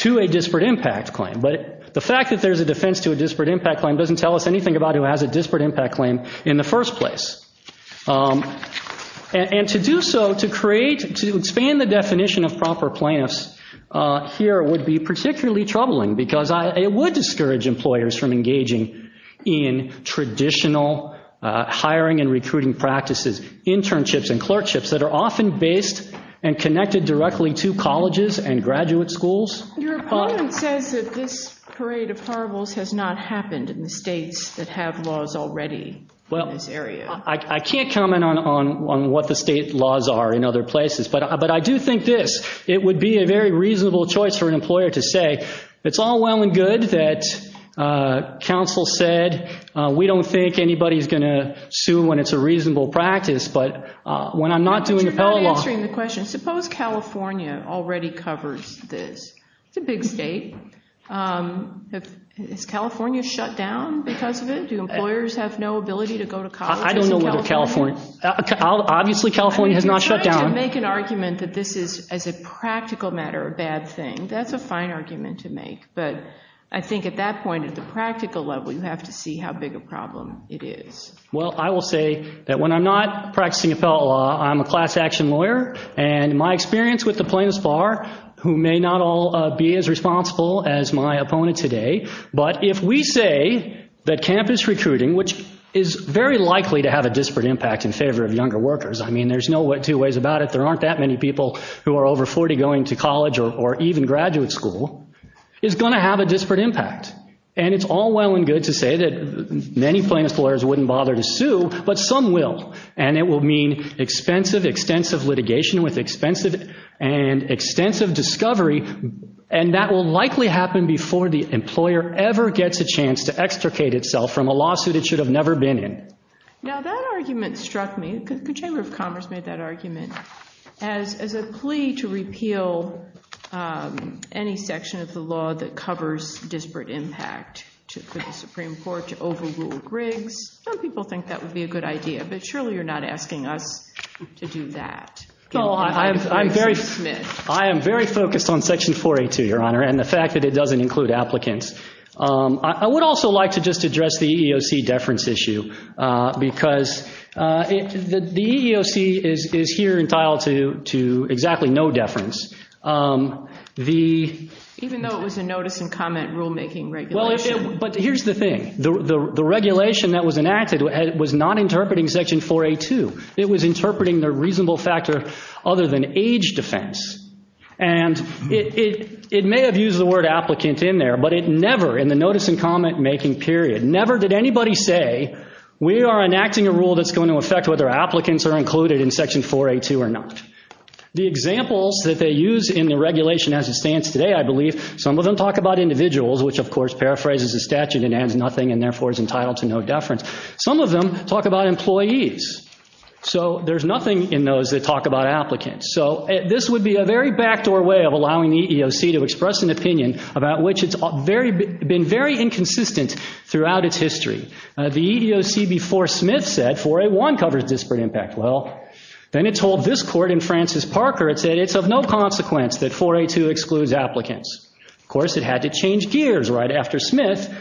to a disparate impact claim. But the fact that there's a defense to a disparate impact claim doesn't tell us anything about who has a disparate impact claim in the first place. And to do so, to create, to expand the definition of proper plaintiffs here would be particularly troubling because it would discourage employers from engaging in traditional hiring and recruiting practices, internships and clerkships that are often based and connected directly to colleges and graduate schools. Your opponent says that this parade of horribles has not happened in the states that have laws already in this area. I can't comment on what the state laws are in other places, but I do think this, it would be a very reasonable choice for an employer to say, it's all well and good that counsel said, we don't think anybody's going to sue when it's a reasonable practice, but when I'm not doing appellate law. You're not answering the question. Suppose California already covers this. It's a big state. Is California shut down because of it? Do employers have no ability to go to college? I don't know whether California, obviously California has not shut down. I'm trying to make an argument that this is, as a practical matter, a bad thing. That's a fine argument to make, but I think at that point, at the practical level, you have to see how big a problem it is. Well, I will say that when I'm not practicing appellate law, I'm a class action lawyer, and my experience with the plaintiffs bar, who may not all be as responsible as my opponent today, but if we say that campus recruiting, which is very likely to have a disparate impact in favor of younger workers, I mean there's no two ways about it. There aren't that many people who are over 40 going to college or even graduate school, is going to have a disparate impact, and it's all well and good to say that many plaintiffs lawyers wouldn't bother to sue, but some will, and it will mean expensive, extensive litigation with expensive and extensive discovery, and that will likely happen before the employer ever gets a chance to extricate itself from a lawsuit it should have never been in. Now that argument struck me. The Chamber of Commerce made that argument as a plea to repeal any section of the law that covers disparate impact for the Supreme Court to overrule Griggs. Some people think that would be a good idea, but surely you're not asking us to do that. I am very focused on Section 482, Your Honor, and the fact that it doesn't include applicants. I would also like to just address the EEOC deference issue, because the EEOC is here entitled to exactly no deference. Even though it was a notice and comment rulemaking regulation. But here's the thing. The regulation that was enacted was not interpreting Section 482. It was interpreting the reasonable factor other than age defense. And it may have used the word applicant in there, but it never, in the notice and comment making period, never did anybody say, we are enacting a rule that's going to affect whether applicants are included in Section 482 or not. The examples that they use in the regulation as it stands today, I believe, some of them talk about individuals, which of course paraphrases the statute and adds nothing and therefore is entitled to no deference. Some of them talk about employees. So there's nothing in those that talk about applicants. So this would be a very backdoor way of allowing the EEOC to express an opinion about which it's been very inconsistent throughout its history. The EEOC before Smith said 481 covers disparate impact. Well, then it told this court in Francis Parker, it said it's of no consequence that 482 excludes applicants. Of course, it had to change gears right after Smith.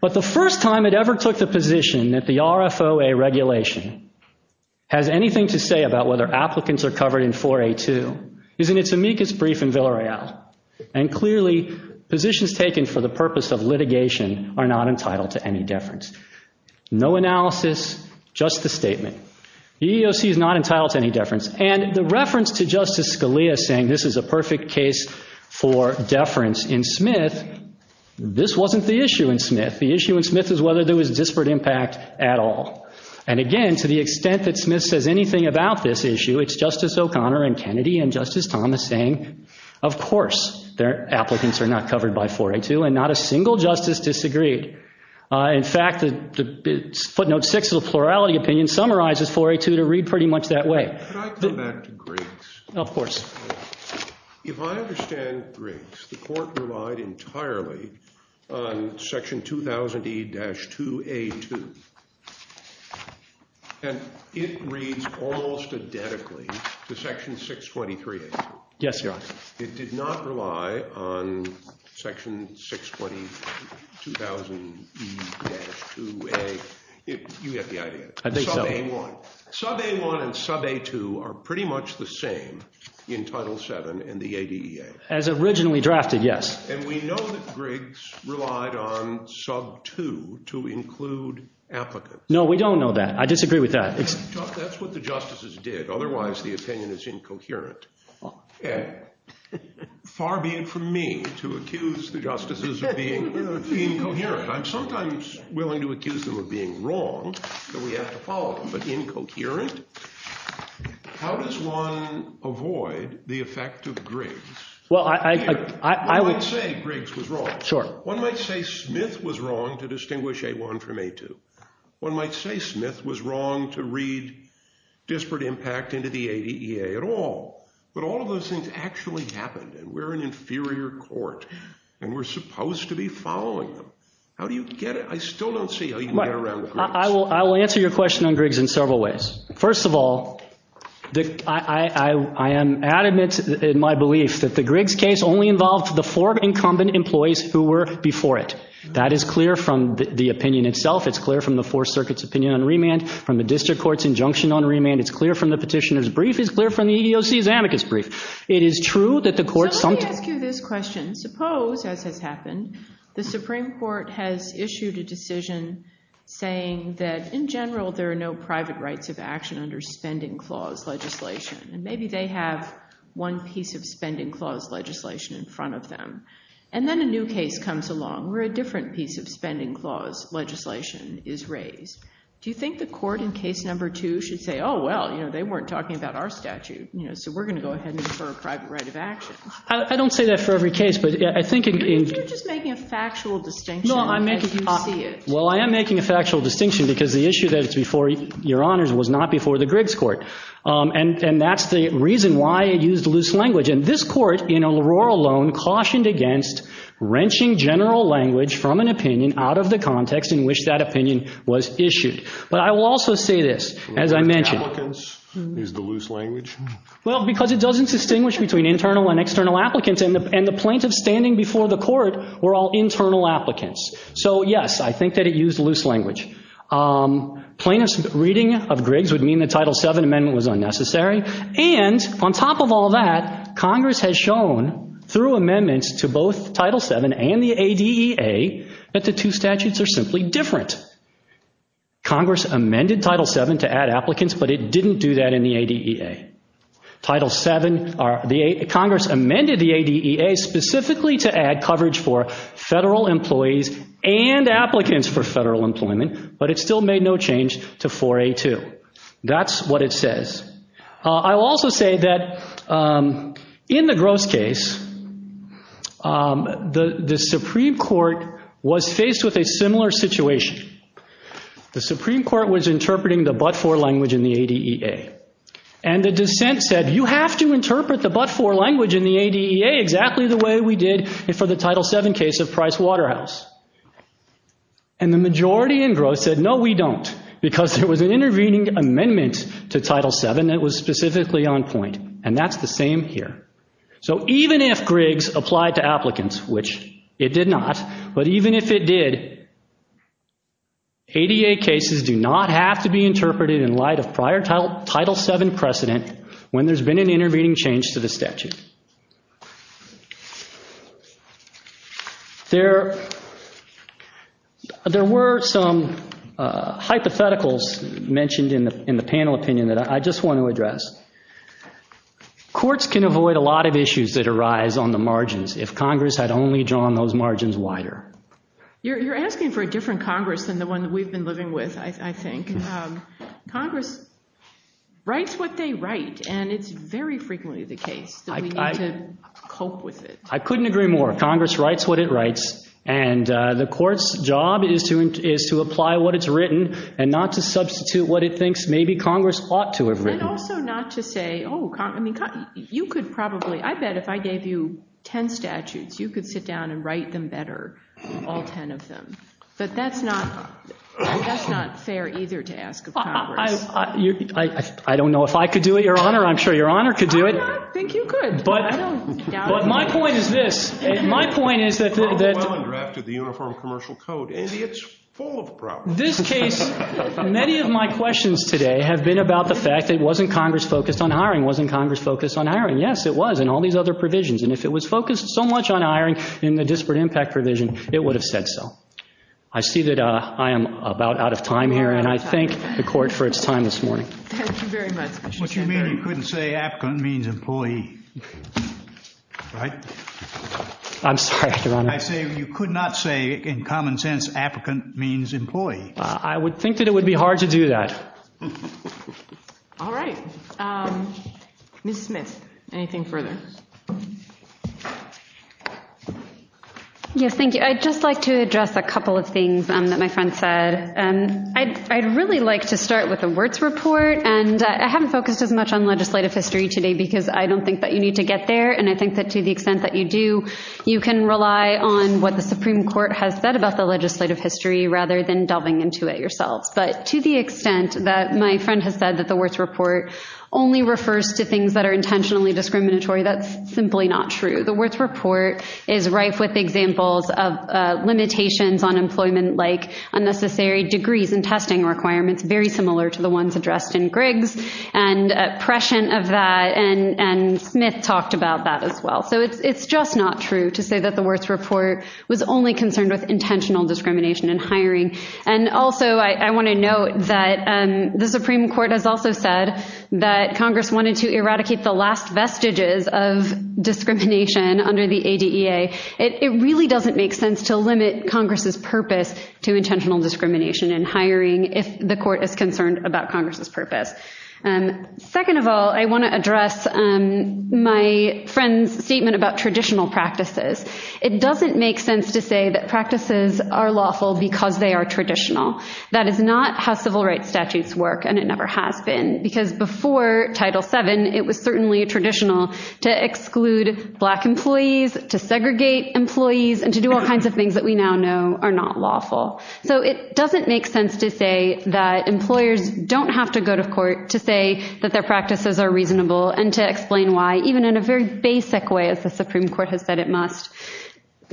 But the first time it ever took the position that the RFOA regulation has anything to say about whether applicants are covered in 482 is in its amicus brief in Villareal. And clearly positions taken for the purpose of litigation are not entitled to any deference. No analysis, just the statement. The EEOC is not entitled to any deference. And the reference to Justice Scalia saying this is a perfect case for deference in Smith, this wasn't the issue in Smith. The issue in Smith is whether there was disparate impact at all. And again, to the extent that Smith says anything about this issue, it's Justice O'Connor and Kennedy and Justice Thomas saying, of course, their applicants are not covered by 482 and not a single justice disagreed. In fact, footnote six of the plurality opinion summarizes 482 to read pretty much that way. Could I come back to Griggs? Of course. If I understand Griggs, the court relied entirely on section 2000E-2A2. And it reads almost identically to section 623A2. Yes, Your Honor. It did not rely on section 620, 2000E-2A. You get the idea. I think so. Sub-A1. Sub-A1 and Sub-A2 are pretty much the same in Title VII and the ADEA. As originally drafted, yes. And we know that Griggs relied on Sub-2 to include applicants. No, we don't know that. I disagree with that. That's what the justices did. Otherwise, the opinion is incoherent. Far be it from me to accuse the justices of being incoherent. I'm sometimes willing to accuse them of being wrong, but we have to follow them. But incoherent? How does one avoid the effect of Griggs? Well, I would say Griggs was wrong. Sure. One might say Smith was wrong to distinguish A1 from A2. One might say Smith was wrong to read disparate impact into the ADEA at all. But all of those things actually happened. And we're an inferior court. And we're supposed to be following them. How do you get it? I still don't see how you can get around Griggs. I will answer your question on Griggs in several ways. First of all, I am adamant in my belief that the Griggs case only involved the four incumbent employees who were before it. That is clear from the opinion itself. It's clear from the Fourth Circuit's opinion on remand, from the district court's injunction on remand. It's clear from the petitioner's brief. It's clear from the EEOC's amicus brief. So let me ask you this question. Suppose, as has happened, the Supreme Court has issued a decision saying that in general there are no private rights of action under spending clause legislation. And maybe they have one piece of spending clause legislation in front of them. And then a new case comes along where a different piece of spending clause legislation is raised. Do you think the court in case number two should say, oh, well, you know, they weren't talking about our statute. So we're going to go ahead and infer a private right of action. I don't say that for every case, but I think in – You're just making a factual distinction as you see it. Well, I am making a factual distinction because the issue that's before your honors was not before the Griggs court. And that's the reason why it used loose language. And this court, in a rural loan, cautioned against wrenching general language from an opinion out of the context in which that opinion was issued. But I will also say this, as I mentioned – Well, because it doesn't distinguish between internal and external applicants. And the plaintiff standing before the court were all internal applicants. So, yes, I think that it used loose language. Plaintiff's reading of Griggs would mean the Title VII amendment was unnecessary. And on top of all that, Congress has shown through amendments to both Title VII and the ADEA that the two statutes are simply different. Congress amended Title VII to add applicants, but it didn't do that in the ADEA. Congress amended the ADEA specifically to add coverage for federal employees and applicants for federal employment. But it still made no change to 4A2. That's what it says. I will also say that in the Gross case, the Supreme Court was faced with a similar situation. The Supreme Court was interpreting the but-for language in the ADEA. And the dissent said, you have to interpret the but-for language in the ADEA exactly the way we did for the Title VII case of Price Waterhouse. And the majority in Gross said, no, we don't, because there was an intervening amendment to Title VII that was specifically on point. And that's the same here. So even if Griggs applied to applicants, which it did not, but even if it did, ADEA cases do not have to be interpreted in light of prior Title VII precedent when there's been an intervening change to the statute. There were some hypotheticals mentioned in the panel opinion that I just want to address. Courts can avoid a lot of issues that arise on the margins if Congress had only drawn those margins wider. You're asking for a different Congress than the one that we've been living with, I think. Congress writes what they write. And it's very frequently the case. I couldn't agree more. Congress writes what it writes. And the court's job is to apply what it's written and not to substitute what it thinks maybe Congress ought to have written. And also not to say, oh, you could probably, I bet if I gave you 10 statutes, you could sit down and write them better, all 10 of them. But that's not fair either to ask of Congress. I don't know if I could do it, Your Honor. I'm sure Your Honor could do it. I think you could. But my point is this. My point is that the- Well, and drafted the Uniform Commercial Code. Maybe it's full of problems. This case, many of my questions today have been about the fact that it wasn't Congress focused on hiring. It wasn't Congress focused on hiring. Yes, it was in all these other provisions. And if it was focused so much on hiring in the disparate impact provision, it would have said so. I see that I am about out of time here, and I thank the Court for its time this morning. Thank you very much. What you mean you couldn't say applicant means employee, right? I'm sorry, Your Honor. I say you could not say in common sense applicant means employee. I would think that it would be hard to do that. All right. Ms. Smith, anything further? Yes, thank you. I'd just like to address a couple of things that my friend said. I'd really like to start with the Wirtz Report. And I haven't focused as much on legislative history today because I don't think that you need to get there, and I think that to the extent that you do, you can rely on what the Supreme Court has said about the legislative history rather than delving into it yourselves. But to the extent that my friend has said that the Wirtz Report only refers to things that are intentionally discriminatory, that's simply not true. The Wirtz Report is rife with examples of limitations on employment like unnecessary degrees and testing requirements, very similar to the ones addressed in Griggs, and prescient of that, and Smith talked about that as well. So it's just not true to say that the Wirtz Report was only concerned with intentional discrimination in hiring. And also I want to note that the Supreme Court has also said that Congress wanted to eradicate the last vestiges of discrimination under the ADEA. It really doesn't make sense to limit Congress's purpose to intentional discrimination in hiring if the court is concerned about Congress's purpose. Second of all, I want to address my friend's statement about traditional practices. It doesn't make sense to say that practices are lawful because they are traditional. That is not how civil rights statutes work, and it never has been, because before Title VII, it was certainly traditional to exclude black employees, to segregate employees, and to do all kinds of things that we now know are not lawful. So it doesn't make sense to say that employers don't have to go to court to say that their practices are reasonable and to explain why, even in a very basic way, as the Supreme Court has said it must,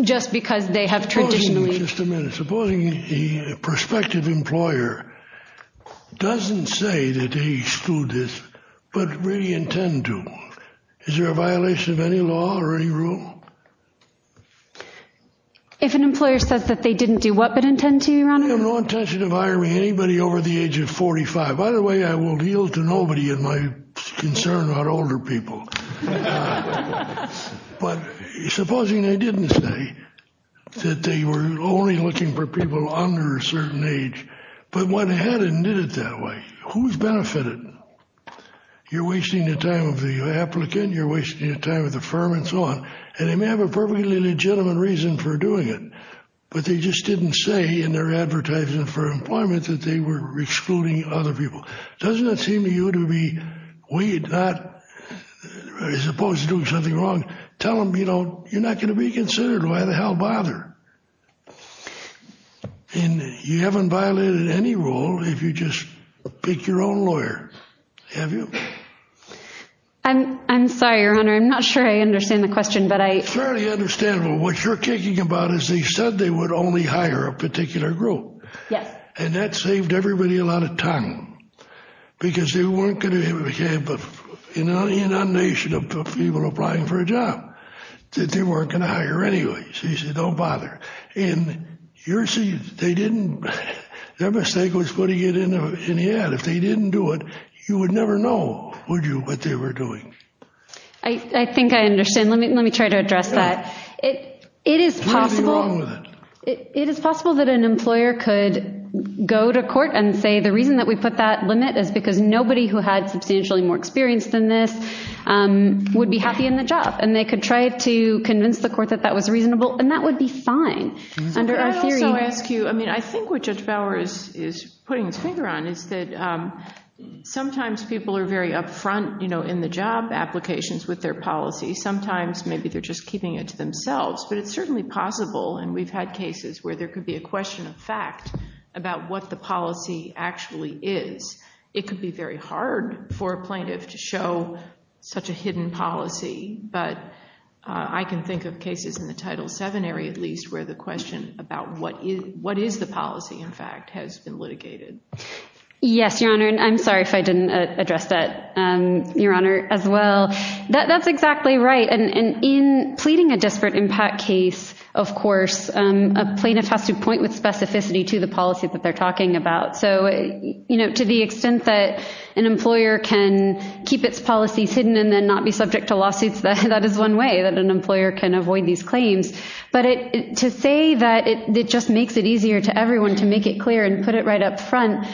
just because they have traditionally Just a minute. Supposing a prospective employer doesn't say that they exclude this, but really intend to. Is there a violation of any law or any rule? If an employer says that they didn't do what but intend to, Your Honor? I have no intention of hiring anybody over the age of 45. By the way, I will yield to nobody in my concern about older people. But supposing they didn't say that they were only looking for people under a certain age, but went ahead and did it that way. Who's benefited? You're wasting the time of the applicant, you're wasting the time of the firm, and so on. And they may have a perfectly legitimate reason for doing it, but they just didn't say in their advertisement for employment that they were excluding other people. Doesn't it seem to you to be, as opposed to doing something wrong, tell them, you know, you're not going to be considered, why the hell bother? And you haven't violated any rule if you just pick your own lawyer, have you? I'm sorry, Your Honor, I'm not sure I understand the question, but I It's fairly understandable. What you're kicking about is they said they would only hire a particular group. Yes. And that saved everybody a lot of time. Because they weren't going to have an inundation of people applying for a job that they weren't going to hire anyway. So you say, don't bother. And you're saying they didn't, their mistake was putting it in the ad. If they didn't do it, you would never know, would you, what they were doing. I think I understand. Let me try to address that. It is possible What's wrong with it? It is possible that an employer could go to court and say, the reason that we put that limit is because nobody who had substantially more experience than this would be happy in the job. And they could try to convince the court that that was reasonable. And that would be fine. I also ask you, I mean, I think what Judge Bauer is putting his finger on is that sometimes people are very upfront, you know, in the job applications with their policy. Sometimes maybe they're just keeping it to themselves. But it's certainly possible, and we've had cases where there could be a question of fact about what the policy actually is. It could be very hard for a plaintiff to show such a hidden policy. But I can think of cases in the Title VII area, at least, where the question about what is the policy, in fact, has been litigated. Yes, Your Honor. And I'm sorry if I didn't address that, Your Honor, as well. That's exactly right. And in pleading a desperate impact case, of course, a plaintiff has to point with specificity to the policy that they're talking about. So, you know, to the extent that an employer can keep its policies hidden and then not be subject to lawsuits, that is one way that an employer can avoid these claims. But to say that it just makes it easier to everyone to make it clear and put it right up front,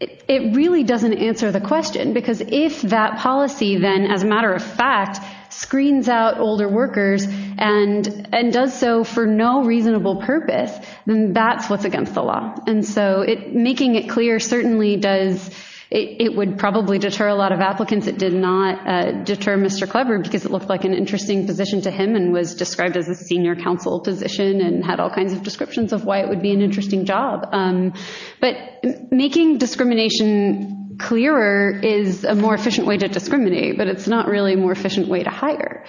it really doesn't answer the question. Because if that policy then, as a matter of fact, screens out older workers and does so for no reasonable purpose, then that's what's against the law. And so making it clear certainly does—it would probably deter a lot of applicants. It did not deter Mr. Cleburne because it looked like an interesting position to him and was described as a senior counsel position and had all kinds of descriptions of why it would be an interesting job. But making discrimination clearer is a more efficient way to discriminate, but it's not really a more efficient way to hire.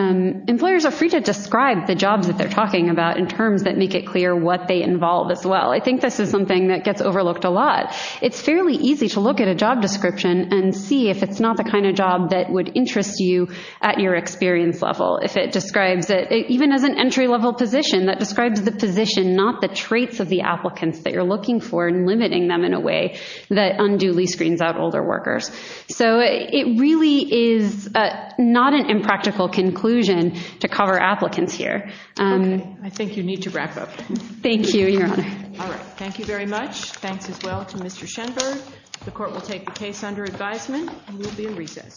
Employers are free to describe the jobs that they're talking about in terms that make it clear what they involve, as well. I think this is something that gets overlooked a lot. It's fairly easy to look at a job description and see if it's not the kind of job that would interest you at your experience level. If it describes—even as an entry-level position, that describes the position, not the traits of the applicants that you're looking for and limiting them in a way that unduly screens out older workers. So it really is not an impractical conclusion to cover applicants here. Okay. I think you need to wrap up. Thank you, Your Honor. All right. Thank you very much. Thanks as well to Mr. Shenberg. The court will take the case under advisement and we'll be in recess.